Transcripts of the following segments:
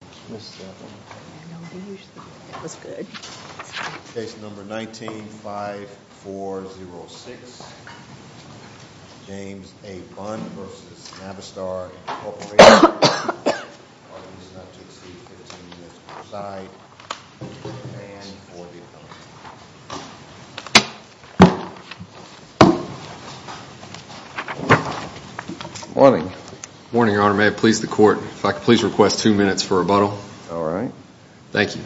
Case number 19-5406, James A. Bunn v. Navistar Inc. Morning. Morning, Your Honor. If I could please request two minutes for rebuttal. All right. Thank you.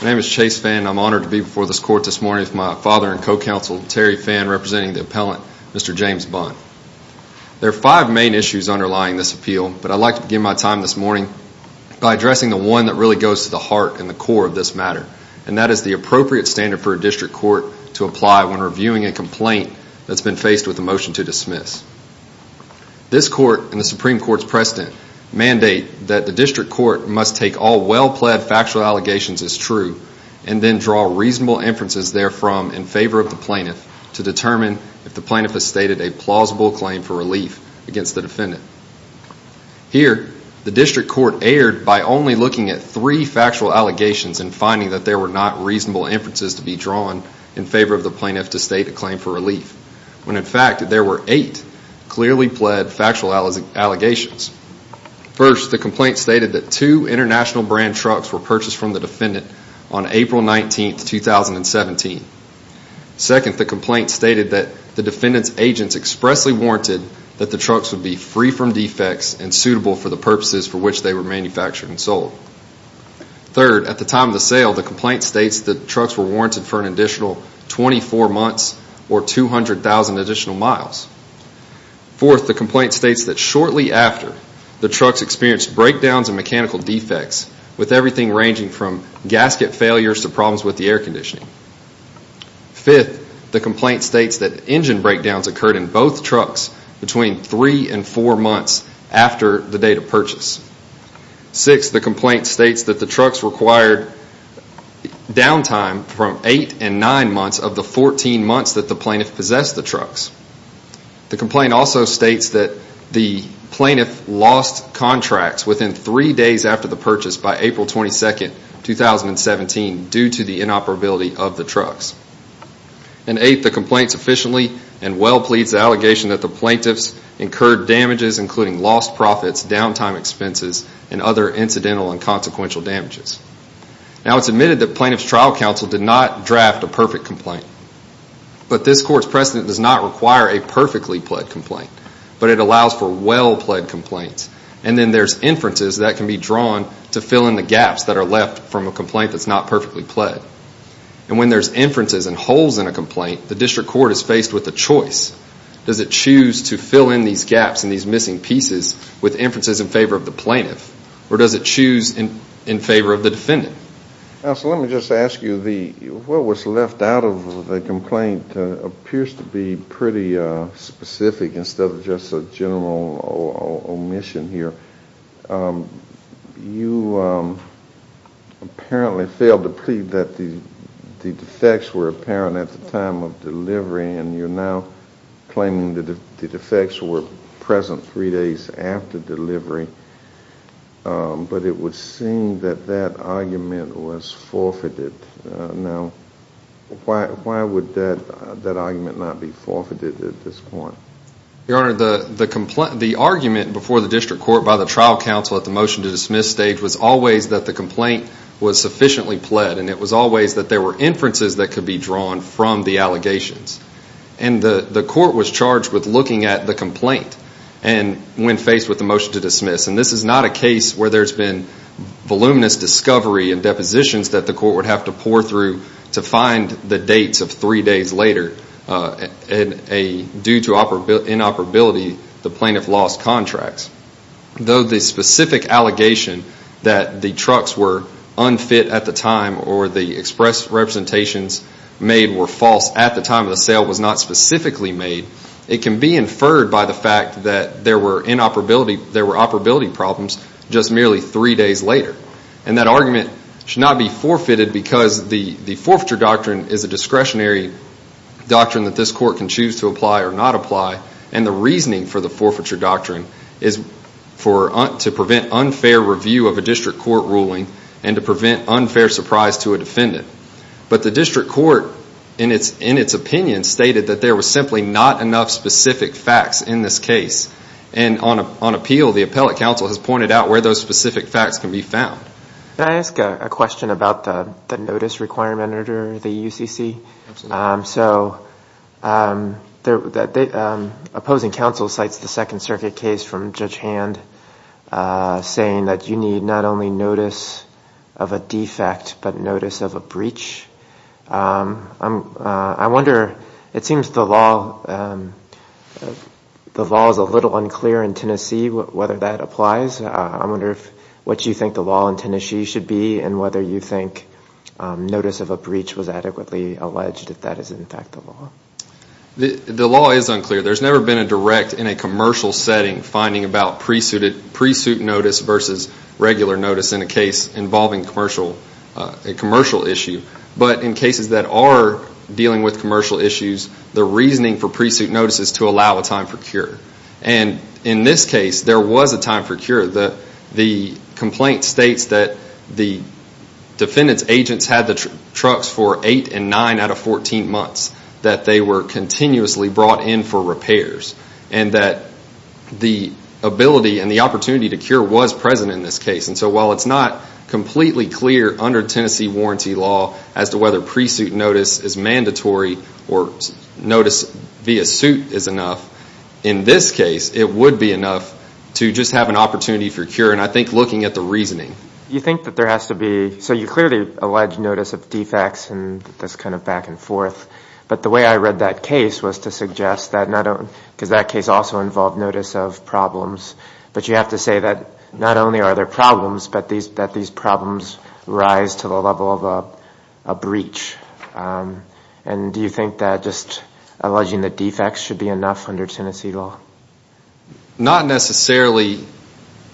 My name is Chase Fann. I'm honored to be before this court this morning with my father and co-counsel, Terry Fann, representing the appellant, Mr. James Bunn. There are five main issues underlying this appeal, but I'd like to begin my time this morning by addressing the one that really goes to the heart and the core of this matter, and that is the appropriate standard for a district court to apply when reviewing a complaint that's been faced with a motion to dismiss. This court and the Supreme Court's precedent mandate that the district court must take all well-pledged factual allegations as true and then draw reasonable inferences therefrom in favor of the plaintiff to determine if the plaintiff has stated a plausible claim for relief against the defendant. Here, the district court erred by only looking at three factual allegations and finding that there were not reasonable inferences to be drawn in favor of the plaintiff to state a claim for relief, when in fact there were eight clearly pled factual allegations. First, the complaint stated that two international brand trucks were purchased from the defendant on April 19, 2017. Second, the complaint stated that the defendant's agents expressly warranted that the trucks would be free from defects and suitable for the purposes for which they were manufactured and sold. Third, at the time of the sale, the complaint states that the trucks were warranted for an additional 24 months or 200,000 additional miles. Fourth, the complaint states that shortly after, the trucks experienced breakdowns and mechanical defects with everything ranging from gasket failures to problems with the air conditioning. Fifth, the complaint states that engine breakdowns occurred in both trucks between three and four months after the date of purchase. Sixth, the complaint states that the trucks required downtime from eight and nine months of the 14 months that the plaintiff possessed the trucks. The complaint also states that the plaintiff lost contracts within three days after the purchase by April 22, 2017 due to the inoperability of the trucks. And eighth, the complaint sufficiently and well pleads the allegation that the plaintiffs incurred damages including lost profits, downtime expenses, and other incidental and consequential damages. Now, it's admitted that plaintiff's trial counsel did not draft a perfect complaint. But this court's precedent does not require a perfectly pled complaint, but it allows for well pled complaints. And then there's inferences that can be drawn to fill in the gaps that are left from a complaint that's not perfectly pled. And when there's inferences and holes in a complaint, the district court is faced with a choice. Does it choose to fill in these gaps and these missing pieces with inferences in favor of the plaintiff? Or does it choose in favor of the defendant? Counsel, let me just ask you, what was left out of the complaint appears to be pretty specific instead of just a general omission here. You apparently failed to plead that the defects were apparent at the time of delivery, and you're now claiming that the defects were present three days after delivery. But it would seem that that argument was forfeited. Now, why would that argument not be forfeited at this point? Your Honor, the argument before the district court by the trial counsel at the motion to dismiss stage was always that the complaint was sufficiently pled, and it was always that there were inferences that could be drawn from the allegations. And the court was charged with looking at the complaint when faced with the motion to dismiss. And this is not a case where there's been voluminous discovery and depositions that the court would have to pour through to find the dates of three days later due to inoperability, the plaintiff lost contracts. Though the specific allegation that the trucks were unfit at the time or the express representations made were false at the time of the sale was not specifically made, it can be inferred by the fact that there were operability problems just merely three days later. And that argument should not be forfeited because the forfeiture doctrine is a discretionary doctrine that this court can choose to apply or not apply. And the reasoning for the forfeiture doctrine is to prevent unfair review of a district court ruling and to prevent unfair surprise to a defendant. But the district court, in its opinion, stated that there were simply not enough specific facts in this case. And on appeal, the appellate counsel has pointed out where those specific facts can be found. Can I ask a question about the notice requirement under the UCC? So opposing counsel cites the Second Circuit case from Judge Hand saying that you need not only notice of a defect but notice of a breach. I wonder, it seems the law is a little unclear in Tennessee whether that applies. I wonder what you think the law in Tennessee should be and whether you think notice of a breach was adequately alleged if that is in fact the law. The law is unclear. There's never been a direct, in a commercial setting, finding about pre-suit notice versus regular notice in a case involving a commercial issue. But in cases that are dealing with commercial issues, the reasoning for pre-suit notice is to allow a time for cure. And in this case, there was a time for cure. The complaint states that the defendant's agents had the trucks for 8 and 9 out of 14 months, that they were continuously brought in for repairs, and that the ability and the opportunity to cure was present in this case. And so while it's not completely clear under Tennessee warranty law as to whether pre-suit notice is mandatory or notice via suit is enough, in this case it would be enough to just have an opportunity for cure. And I think looking at the reasoning. You think that there has to be, so you clearly allege notice of defects and this kind of back and forth. But the way I read that case was to suggest that, because that case also involved notice of problems. But you have to say that not only are there problems, but that these problems rise to the level of a breach. And do you think that just alleging the defects should be enough under Tennessee law? Not necessarily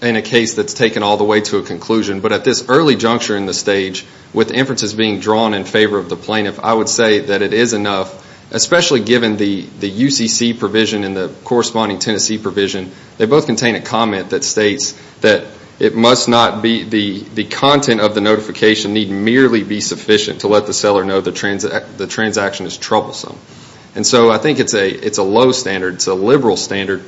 in a case that's taken all the way to a conclusion. But at this early juncture in the stage, with inferences being drawn in favor of the plaintiff, I would say that it is enough, especially given the UCC provision and the corresponding Tennessee provision. They both contain a comment that states that it must not be the content of the notification need merely be sufficient to let the seller know the transaction is troublesome. And so I think it's a low standard. It's a liberal standard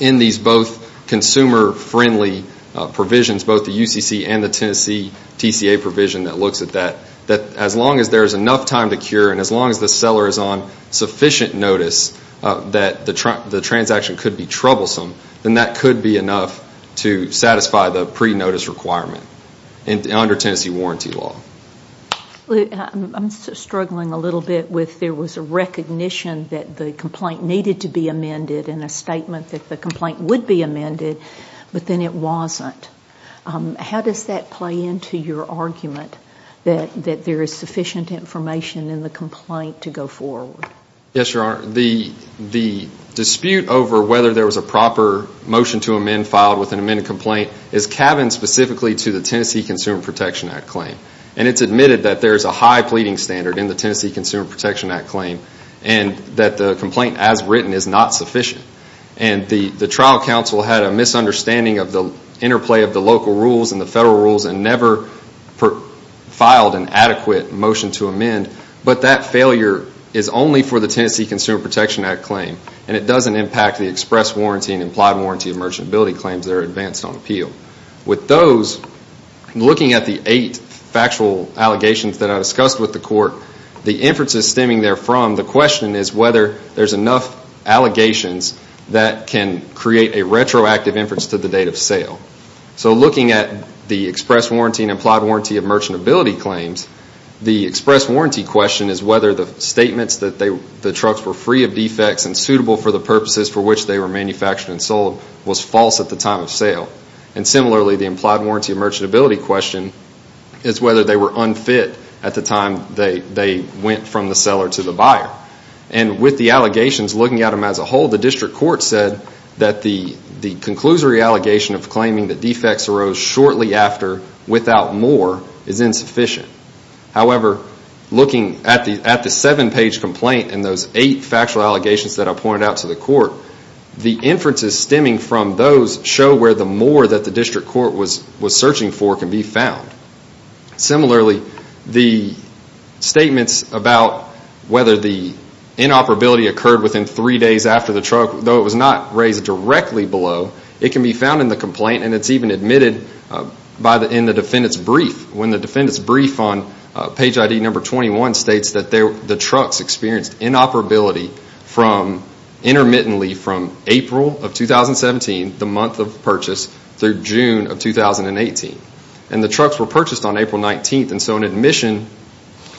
in these both consumer-friendly provisions, both the UCC and the Tennessee TCA provision that looks at that. That as long as there is enough time to cure and as long as the seller is on sufficient notice that the transaction could be troublesome, then that could be enough to satisfy the pre-notice requirement under Tennessee warranty law. I'm struggling a little bit with there was a recognition that the complaint needed to be amended and a statement that the complaint would be amended, but then it wasn't. How does that play into your argument that there is sufficient information in the complaint to go forward? Yes, Your Honor. The dispute over whether there was a proper motion to amend filed with an amended complaint is cabined specifically to the Tennessee Consumer Protection Act claim. And it's admitted that there is a high pleading standard in the Tennessee Consumer Protection Act claim and that the complaint as written is not sufficient. The trial counsel had a misunderstanding of the interplay of the local rules and the federal rules and never filed an adequate motion to amend. But that failure is only for the Tennessee Consumer Protection Act claim and it doesn't impact the express warranty and implied warranty of merchantability claims that are advanced on appeal. With those, looking at the eight factual allegations that I discussed with the court, the inferences stemming therefrom, the question is whether there's enough allegations that can create a retroactive inference to the date of sale. So looking at the express warranty and implied warranty of merchantability claims, the express warranty question is whether the statements that the trucks were free of defects and suitable for the purposes for which they were manufactured and sold was false at the time of sale. And similarly, the implied warranty of merchantability question is whether they were unfit at the time they went from the seller to the buyer. And with the allegations, looking at them as a whole, the district court said that the conclusory allegation of claiming that defects arose shortly after without more is insufficient. However, looking at the seven-page complaint and those eight factual allegations that I pointed out to the court, the inferences stemming from those show where the more that the district court was searching for can be found. Similarly, the statements about whether the inoperability occurred within three days after the truck, though it was not raised directly below, it can be found in the complaint and it's even admitted in the defendant's brief when the defendant's brief on page ID number 21 states that the trucks experienced inoperability intermittently from April of 2017, the month of purchase, through June of 2018. And the trucks were purchased on April 19, and so an admission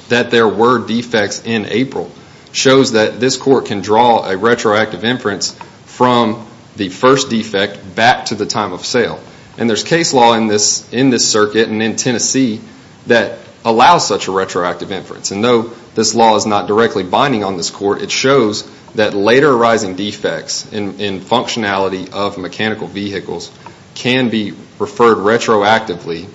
that there were defects in April shows that this court can draw a retroactive inference from the first defect back to the time of sale. And there's case law in this circuit and in Tennessee that allows such a retroactive inference. And though this law is not directly binding on this court, it shows that later arising defects in functionality of mechanical vehicles can be referred retroactively,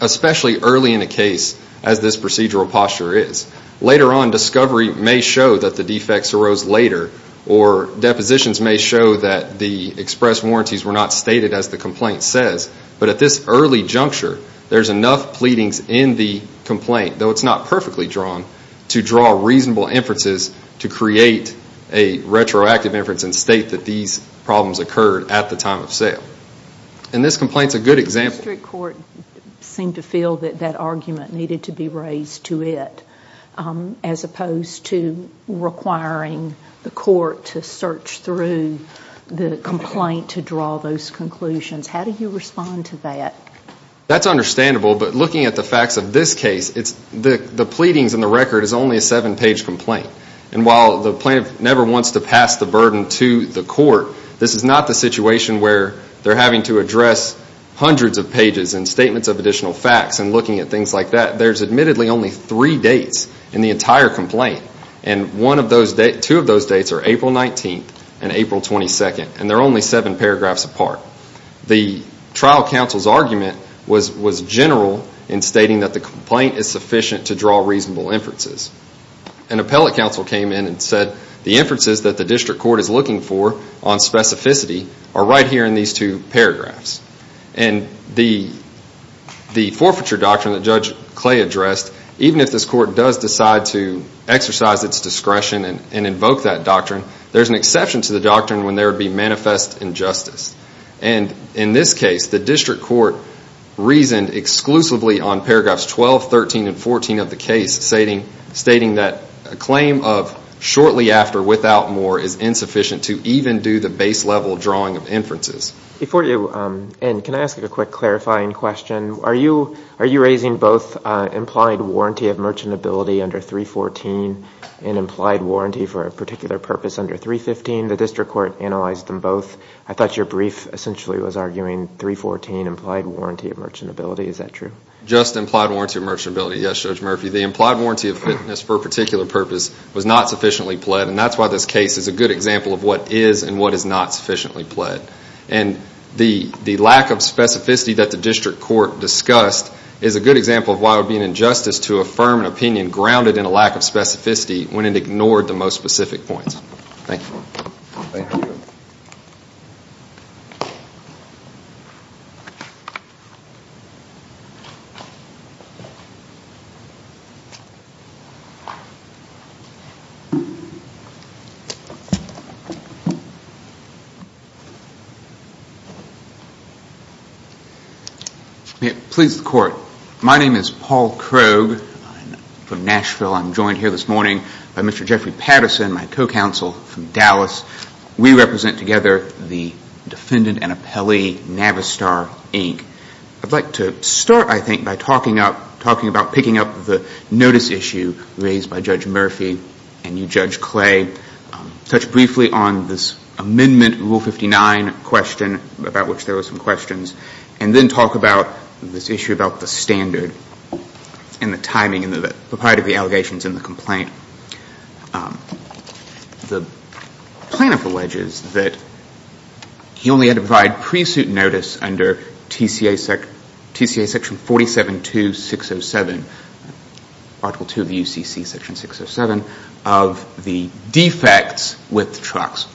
especially early in a case as this procedural posture is. Later on, discovery may show that the defects arose later, or depositions may show that the express warranties were not stated as the complaint says. But at this early juncture, there's enough pleadings in the complaint, though it's not perfectly drawn, to draw reasonable inferences to create a retroactive inference and state that these problems occurred at the time of sale. And this complaint's a good example. The district court seemed to feel that that argument needed to be raised to it, as opposed to requiring the court to search through the complaint to draw those conclusions. How do you respond to that? That's understandable, but looking at the facts of this case, the pleadings in the record is only a seven-page complaint. And while the plaintiff never wants to pass the burden to the court, this is not the situation where they're having to address hundreds of pages and statements of additional facts and looking at things like that. There's admittedly only three dates in the entire complaint, and two of those dates are April 19th and April 22nd, and they're only seven paragraphs apart. The trial counsel's argument was general in stating that the complaint is sufficient to draw reasonable inferences. An appellate counsel came in and said, the inferences that the district court is looking for on specificity are right here in these two paragraphs. And the forfeiture doctrine that Judge Clay addressed, even if this court does decide to exercise its discretion and invoke that doctrine, there's an exception to the doctrine when there would be manifest injustice. And in this case, the district court reasoned exclusively on paragraphs 12, 13, and 14 of the case, stating that a claim of shortly after without more is insufficient to even do the base level drawing of inferences. Before you end, can I ask a quick clarifying question? Are you raising both implied warranty of merchantability under 314 and implied warranty for a particular purpose under 315? The district court analyzed them both. I thought your brief essentially was arguing 314, implied warranty of merchantability. Is that true? Just implied warranty of merchantability, yes, Judge Murphy. The implied warranty of fitness for a particular purpose was not sufficiently pled, and that's why this case is a good example of what is and what is not sufficiently pled. And the lack of specificity that the district court discussed is a good example of why it would be an injustice to affirm an opinion grounded in a lack of specificity when it ignored the most specific points. Thank you. Thank you. Please, the Court. My name is Paul Krogh. I'm from Nashville. I'm joined here this morning by Mr. Jeffrey Patterson, my co-counsel from Dallas. We represent together the Defendant and Appellee Navistar, Inc. I'd like to start, I think, by talking about picking up the case that we're going to be discussing today. The notice issue raised by Judge Murphy and you, Judge Clay, touched briefly on this amendment, Rule 59 question, about which there were some questions, and then talk about this issue about the standard and the timing and the propriety of the allegations in the complaint. The plaintiff alleges that he only had to provide pre-suit notice under TCA Section 47-2-607, Article 2 of the UCC Section 607, of the defects with trucks.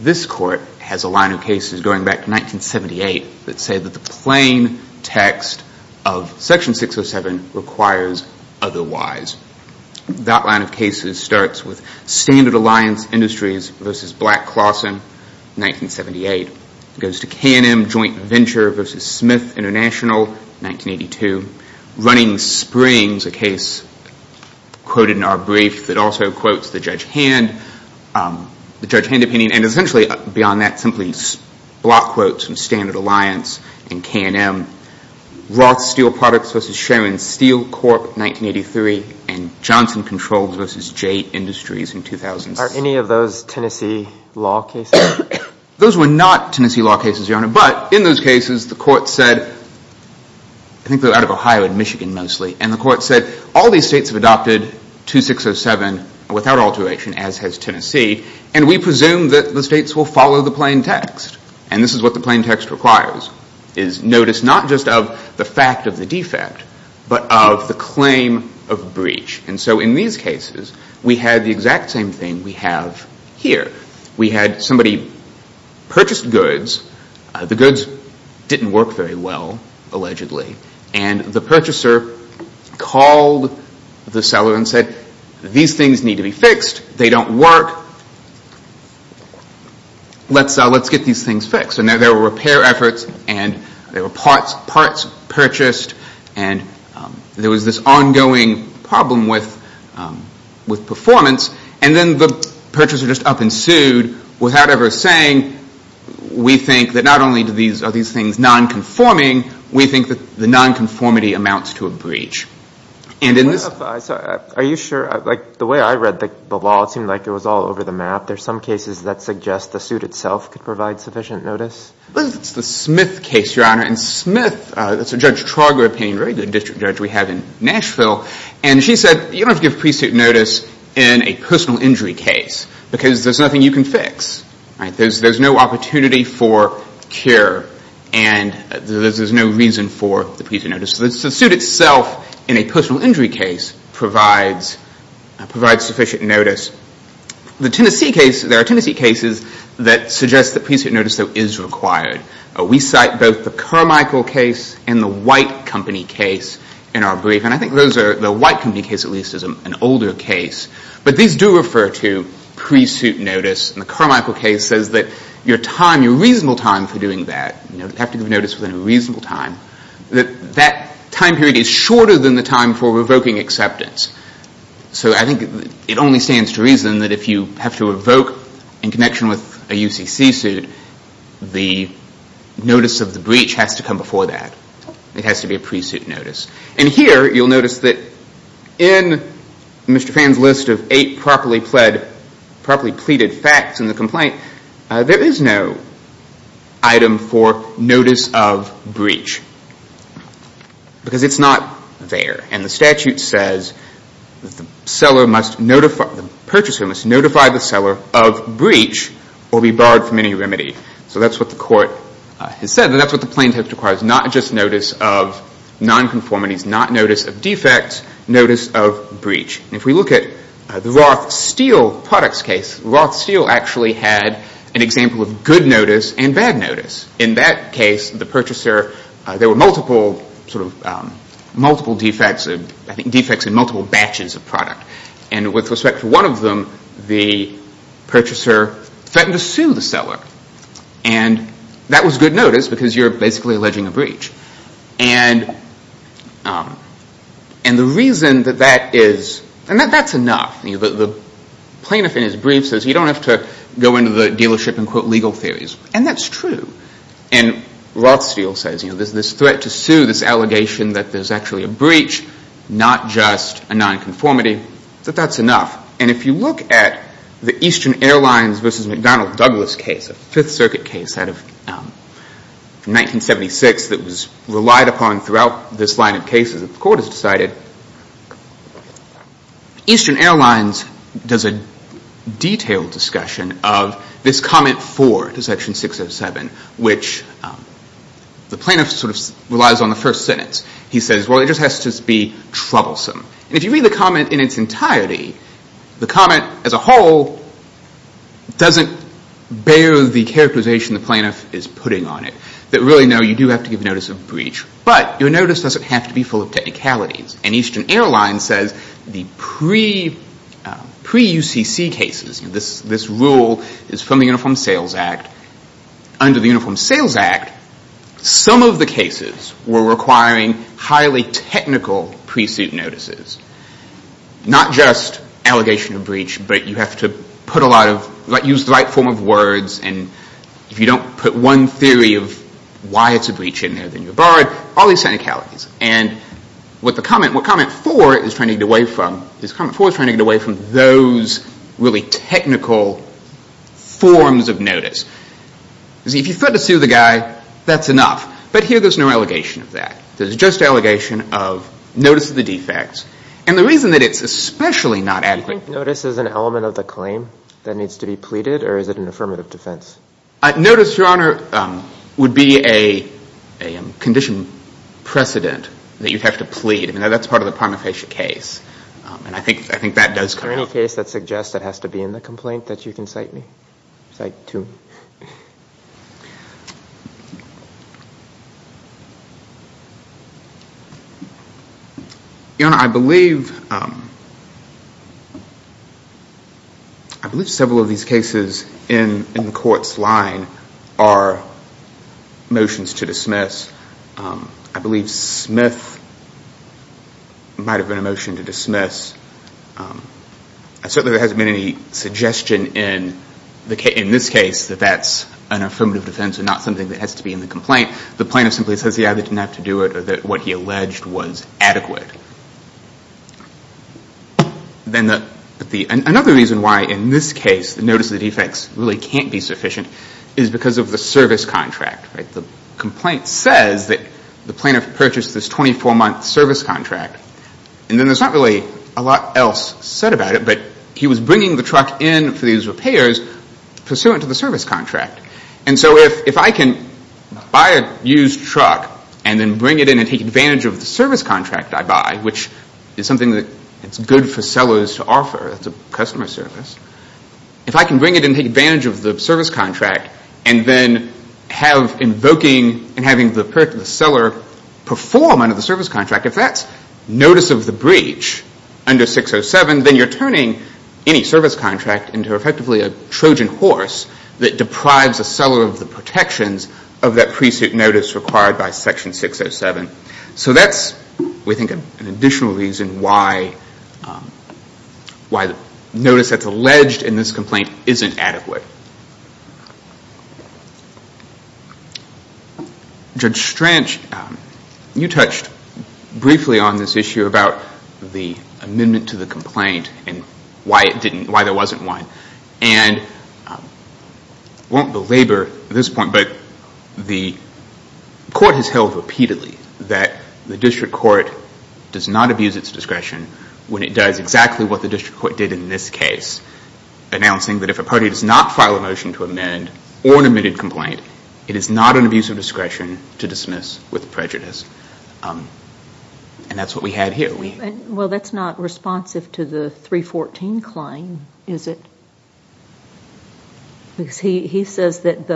This Court has a line of cases going back to 1978 that say that the plain text of Section 607 requires otherwise. That line of cases starts with Standard Alliance Industries v. Black-Clawson, 1978. It goes to K&M Joint Venture v. Smith International, 1982. Running Springs, a case quoted in our brief that also quotes the Judge Hand, the Judge Hand opinion, and essentially beyond that, simply block quotes from Standard Alliance and K&M. Roth Steel Products v. Sharon Steel Corp., 1983, and Johnson Controls v. J Industries in 2006. Are any of those Tennessee law cases? Those were not Tennessee law cases, Your Honor, but in those cases the Court said, I think they're out of Ohio and Michigan mostly, and the Court said all these states have adopted 2607 without alteration, as has Tennessee, and we presume that the states will follow the plain text. And this is what the plain text requires, is notice not just of the fact of the defect, but of the claim of breach. And so in these cases, we had the exact same thing we have here. We had somebody purchase goods. The goods didn't work very well, allegedly, and the purchaser called the seller and said, these things need to be fixed. They don't work. Let's get these things fixed. And there were repair efforts, and there were parts purchased, and there was this ongoing problem with performance, and then the purchaser just up and sued without ever saying, we think that not only are these things nonconforming, we think that the nonconformity amounts to a breach. Are you sure? The way I read the law, it seemed like it was all over the map. There are some cases that suggest the suit itself could provide sufficient notice? It's the Smith case, Your Honor, and Smith, that's a Judge Trauger opinion, a very good district judge we have in Nashville, and she said you don't have to give pre-suit notice in a personal injury case because there's nothing you can fix. There's no opportunity for cure, and there's no reason for the pre-suit notice. The suit itself in a personal injury case provides sufficient notice. There are Tennessee cases that suggest that pre-suit notice, though, is required. We cite both the Carmichael case and the White Company case in our brief, and I think the White Company case, at least, is an older case. But these do refer to pre-suit notice, and the Carmichael case says that your time, your reasonable time for doing that, you have to give notice within a reasonable time, that that time period is shorter than the time for revoking acceptance. So I think it only stands to reason that if you have to revoke in connection with a UCC suit, the notice of the breach has to come before that. It has to be a pre-suit notice. And here you'll notice that in Mr. Phan's list of eight properly pleaded facts in the complaint, there is no item for notice of breach because it's not there. And the statute says that the purchaser must notify the seller of breach or be barred from any remedy. So that's what the court has said, and that's what the plaintiff requires, not just notice of nonconformities, not notice of defects, notice of breach. And if we look at the Roth Steel products case, Roth Steel actually had an example of good notice and bad notice. In that case, the purchaser, there were multiple defects and multiple batches of product. And with respect to one of them, the purchaser threatened to sue the seller. And that was good notice because you're basically alleging a breach. And the reason that that is – and that's enough. The plaintiff in his brief says you don't have to go into the dealership and quote legal theories. And that's true. And Roth Steel says there's this threat to sue, this allegation that there's actually a breach, not just a nonconformity, that that's enough. And if you look at the Eastern Airlines versus McDonnell Douglas case, which is a Fifth Circuit case out of 1976 that was relied upon throughout this line of cases that the court has decided, Eastern Airlines does a detailed discussion of this comment four to section 607, which the plaintiff sort of relies on the first sentence. He says, well, it just has to be troublesome. And if you read the comment in its entirety, the comment as a whole doesn't bear the characterization the plaintiff is putting on it, that really, no, you do have to give notice of breach. But your notice doesn't have to be full of technicalities. And Eastern Airlines says the pre-UCC cases, this rule is from the Uniform Sales Act. Under the Uniform Sales Act, some of the cases were requiring highly technical pre-suit notices. Not just allegation of breach, but you have to put a lot of, use the right form of words, and if you don't put one theory of why it's a breach in there, then you're barred. All these technicalities. And what comment four is trying to get away from, is comment four is trying to get away from those really technical forms of notice. See, if you threaten to sue the guy, that's enough. But here there's no allegation of that. There's just allegation of notice of the defects. And the reason that it's especially not adequate. Do you think notice is an element of the claim that needs to be pleaded, or is it an affirmative defense? Notice, Your Honor, would be a condition precedent that you'd have to plead. I mean, that's part of the prima facie case. And I think that does come out. Is there any case that suggests it has to be in the complaint that you can cite me? Cite two? Your Honor, I believe several of these cases in the court's line are motions to dismiss. I believe Smith might have been a motion to dismiss. Certainly there hasn't been any suggestion in this case that that's an affirmative defense and not something that has to be in the complaint. The plaintiff simply says he either didn't have to do it or that what he alleged was adequate. Then another reason why in this case the notice of the defects really can't be sufficient is because of the service contract. The complaint says that the plaintiff purchased this 24-month service contract. And then there's not really a lot else said about it, but he was bringing the truck in for these repairs pursuant to the service contract. And so if I can buy a used truck and then bring it in and take advantage of the service contract I buy, which is something that's good for sellers to offer, it's a customer service, if I can bring it in and take advantage of the service contract and then have invoking and having the seller perform under the service contract, if that's notice of the breach under 607, then you're turning any service contract into effectively a Trojan horse that deprives a seller of the protections of that pre-suit notice required by Section 607. So that's, we think, an additional reason why the notice that's alleged in this complaint isn't adequate. Judge Stranch, you touched briefly on this issue about the amendment to the complaint and why there wasn't one. And I won't belabor this point, but the court has held repeatedly that the district court does not abuse its discretion when it does exactly what the district court did in this case, announcing that if a party does not file a motion to amend or an admitted complaint, it is not an abuse of discretion to dismiss with prejudice. And that's what we had here. Well, that's not responsive to the 314 claim, is it? Because he says that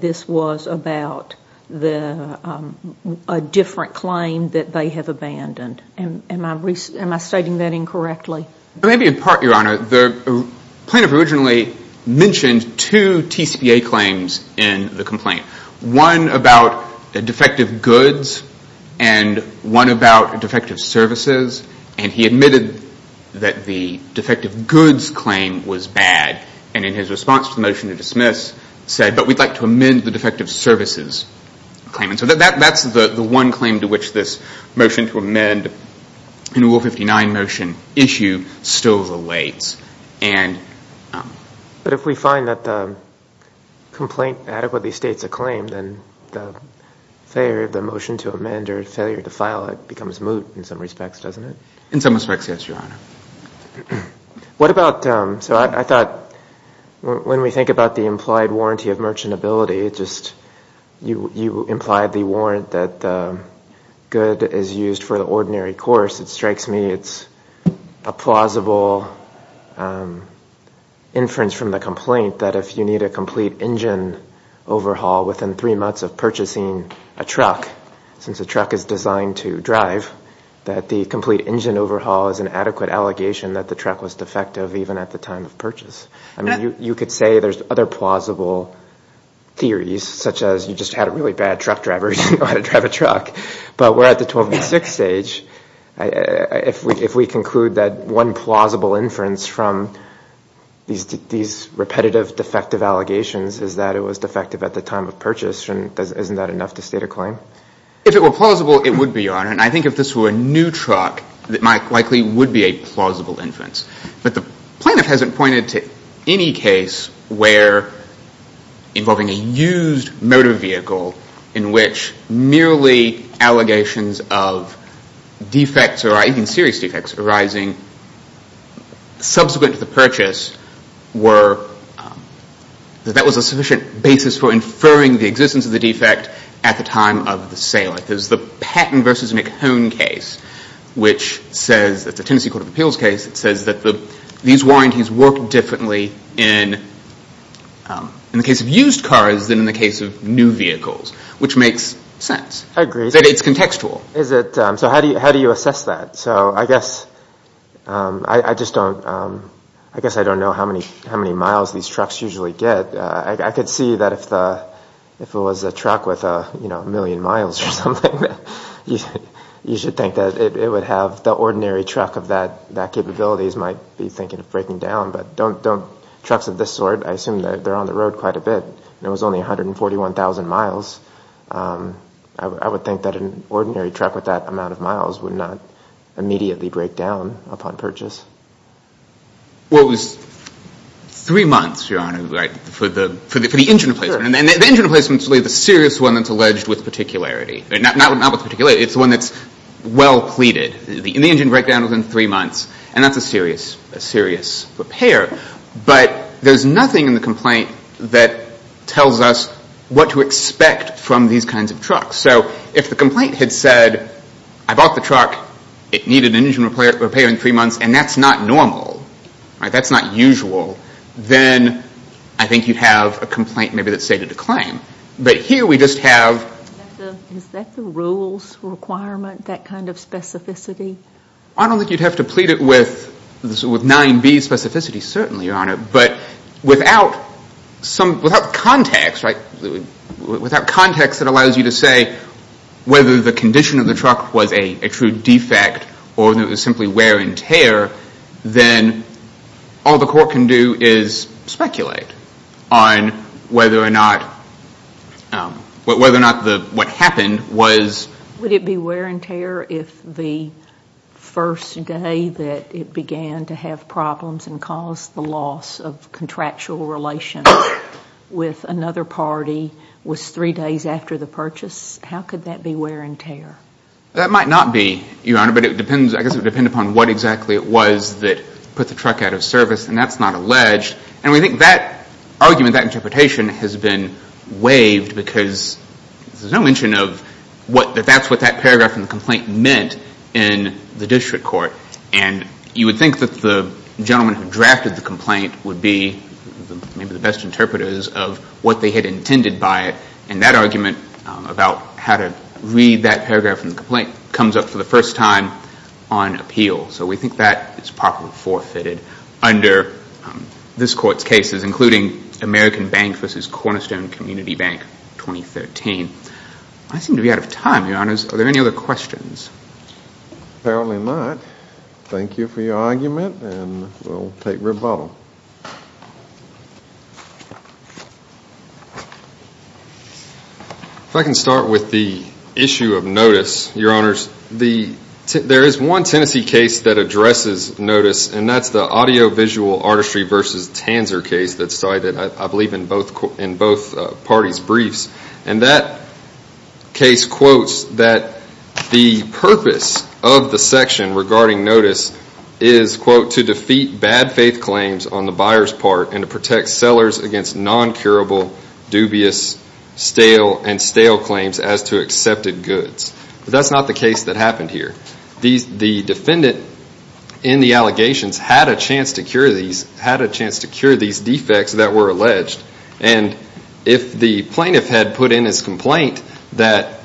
this was about a different claim that they have abandoned. Am I stating that incorrectly? Maybe in part, Your Honor. The plaintiff originally mentioned two TCPA claims in the complaint, one about defective goods and one about defective services. And he admitted that the defective goods claim was bad. And in his response to the motion to dismiss, said, but we'd like to amend the defective services claim. And so that's the one claim to which this motion to amend, in Rule 59 motion issue, still relates. But if we find that the complaint adequately states a claim, then the failure of the motion to amend or failure to file it becomes moot in some respects, doesn't it? In some respects, yes, Your Honor. So I thought when we think about the implied warranty of merchantability, you implied the warrant that the good is used for the ordinary course. It strikes me it's a plausible inference from the complaint that if you need a complete engine overhaul within three months of purchasing a truck, since a truck is designed to drive, that the complete engine overhaul is an adequate allegation that the truck was defective even at the time of purchase. I mean, you could say there's other plausible theories, such as you just had a really bad truck driver who didn't know how to drive a truck. But we're at the 1286 stage. If we conclude that one plausible inference from these repetitive defective allegations is that it was defective at the time of purchase, isn't that enough to state a claim? If it were plausible, it would be, Your Honor. And I think if this were a new truck, it likely would be a plausible inference. But the plaintiff hasn't pointed to any case where involving a used motor vehicle in which merely allegations of defects or even serious defects arising subsequent to the purchase were that that was a sufficient basis for inferring the existence of the defect at the time of the sale. There's the Patton v. McHone case, which says, it's a Tennessee Court of Appeals case, it says that these warranties work differently in the case of used cars than in the case of new vehicles, which makes sense. I agree. It's contextual. So how do you assess that? So I guess I just don't know how many miles these trucks usually get. I could see that if it was a truck with a million miles or something, you should think that it would have the ordinary truck of that capabilities might be thinking of breaking down. But trucks of this sort, I assume they're on the road quite a bit, and it was only 141,000 miles. I would think that an ordinary truck with that amount of miles would not immediately break down upon purchase. Well, it was three months, Your Honor, for the engine replacement. Sure. And the engine replacement is really the serious one that's alleged with particularity. Not with particularity. It's the one that's well pleaded. The engine broke down within three months, and that's a serious repair. But there's nothing in the complaint that tells us what to expect from these kinds of trucks. So if the complaint had said, I bought the truck, it needed an engine repair in three months, and that's not normal, that's not usual, then I think you'd have a complaint maybe that's stated to claim. But here we just have... Is that the rules requirement, that kind of specificity? I don't think you'd have to plead it with 9B specificity, certainly, Your Honor. But without context that allows you to say whether the condition of the truck was a true defect or that it was simply wear and tear, then all the court can do is speculate on whether or not what happened was... Would it be wear and tear if the first day that it began to have problems and caused the loss of contractual relation with another party was three days after the purchase? That might not be, Your Honor, but it depends... I guess it would depend upon what exactly it was that put the truck out of service, and that's not alleged. And we think that argument, that interpretation has been waived because there's no mention of that that's what that paragraph in the complaint meant in the district court. And you would think that the gentleman who drafted the complaint would be maybe the best interpreters because of what they had intended by it. And that argument about how to read that paragraph in the complaint comes up for the first time on appeal. So we think that is properly forfeited under this court's cases, including American Bank v. Cornerstone Community Bank, 2013. I seem to be out of time, Your Honors. Are there any other questions? Apparently not. Thank you for your argument, and we'll take rebuttal. If I can start with the issue of notice, Your Honors. There is one Tennessee case that addresses notice, and that's the Audiovisual Artistry v. Tanzer case that's cited, I believe, in both parties' briefs. And that case quotes that the purpose of the section regarding notice is, quote, to defeat bad faith claims on the buyer's part and to protect sellers against non-curable, dubious, stale, and stale claims as to accepted goods. But that's not the case that happened here. The defendant in the allegations had a chance to cure these defects that were alleged. And if the plaintiff had put in his complaint that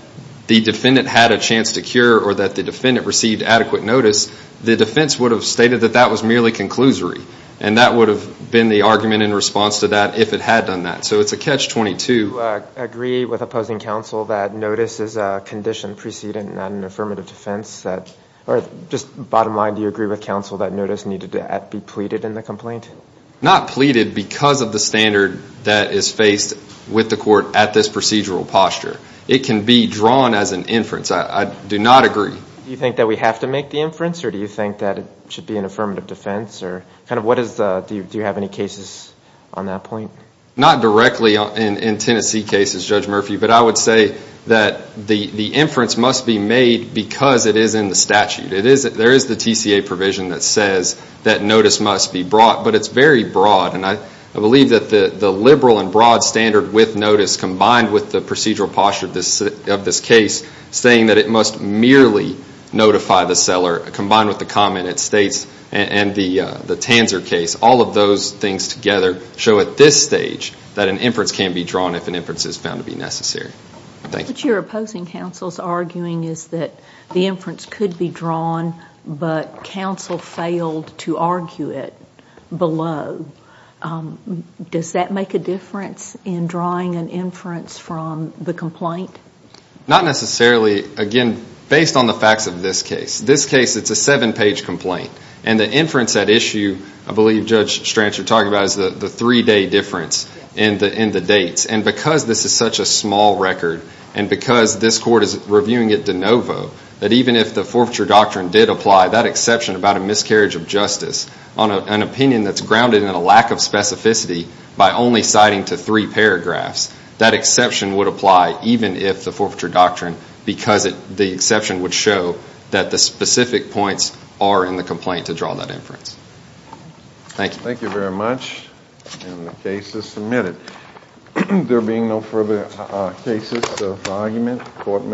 the defendant had a chance to cure or that the defendant received adequate notice, the defense would have stated that that was merely conclusory. And that would have been the argument in response to that if it had done that. So it's a catch-22. Do you agree with opposing counsel that notice is a condition preceding an affirmative defense? Or just bottom line, do you agree with counsel that notice needed to be pleaded in the complaint? Not pleaded because of the standard that is faced with the court at this procedural posture. It can be drawn as an inference. I do not agree. Do you think that we have to make the inference? Or do you think that it should be an affirmative defense? Do you have any cases on that point? Not directly in Tennessee cases, Judge Murphy. But I would say that the inference must be made because it is in the statute. There is the TCA provision that says that notice must be brought. But it's very broad. And I believe that the liberal and broad standard with notice combined with the procedural posture of this case, saying that it must merely notify the seller combined with the comment it states and the Tanzer case, all of those things together show at this stage that an inference can be drawn if an inference is found to be necessary. Thank you. What you're opposing counsel's arguing is that the inference could be drawn, but counsel failed to argue it below. Does that make a difference in drawing an inference from the complaint? Not necessarily. Again, based on the facts of this case. This case, it's a seven-page complaint. And the inference at issue, I believe, Judge Strantz, you're talking about, is the three-day difference in the dates. And because this is such a small record and because this court is reviewing it de novo, that even if the forfeiture doctrine did apply, that exception about a miscarriage of justice on an opinion that's grounded in a lack of specificity by only citing to three paragraphs, that exception would apply even if the forfeiture doctrine, because the exception would show that the specific points are in the complaint to draw that inference. Thank you. Thank you very much. And the case is submitted. There being no further cases of argument, the court may close.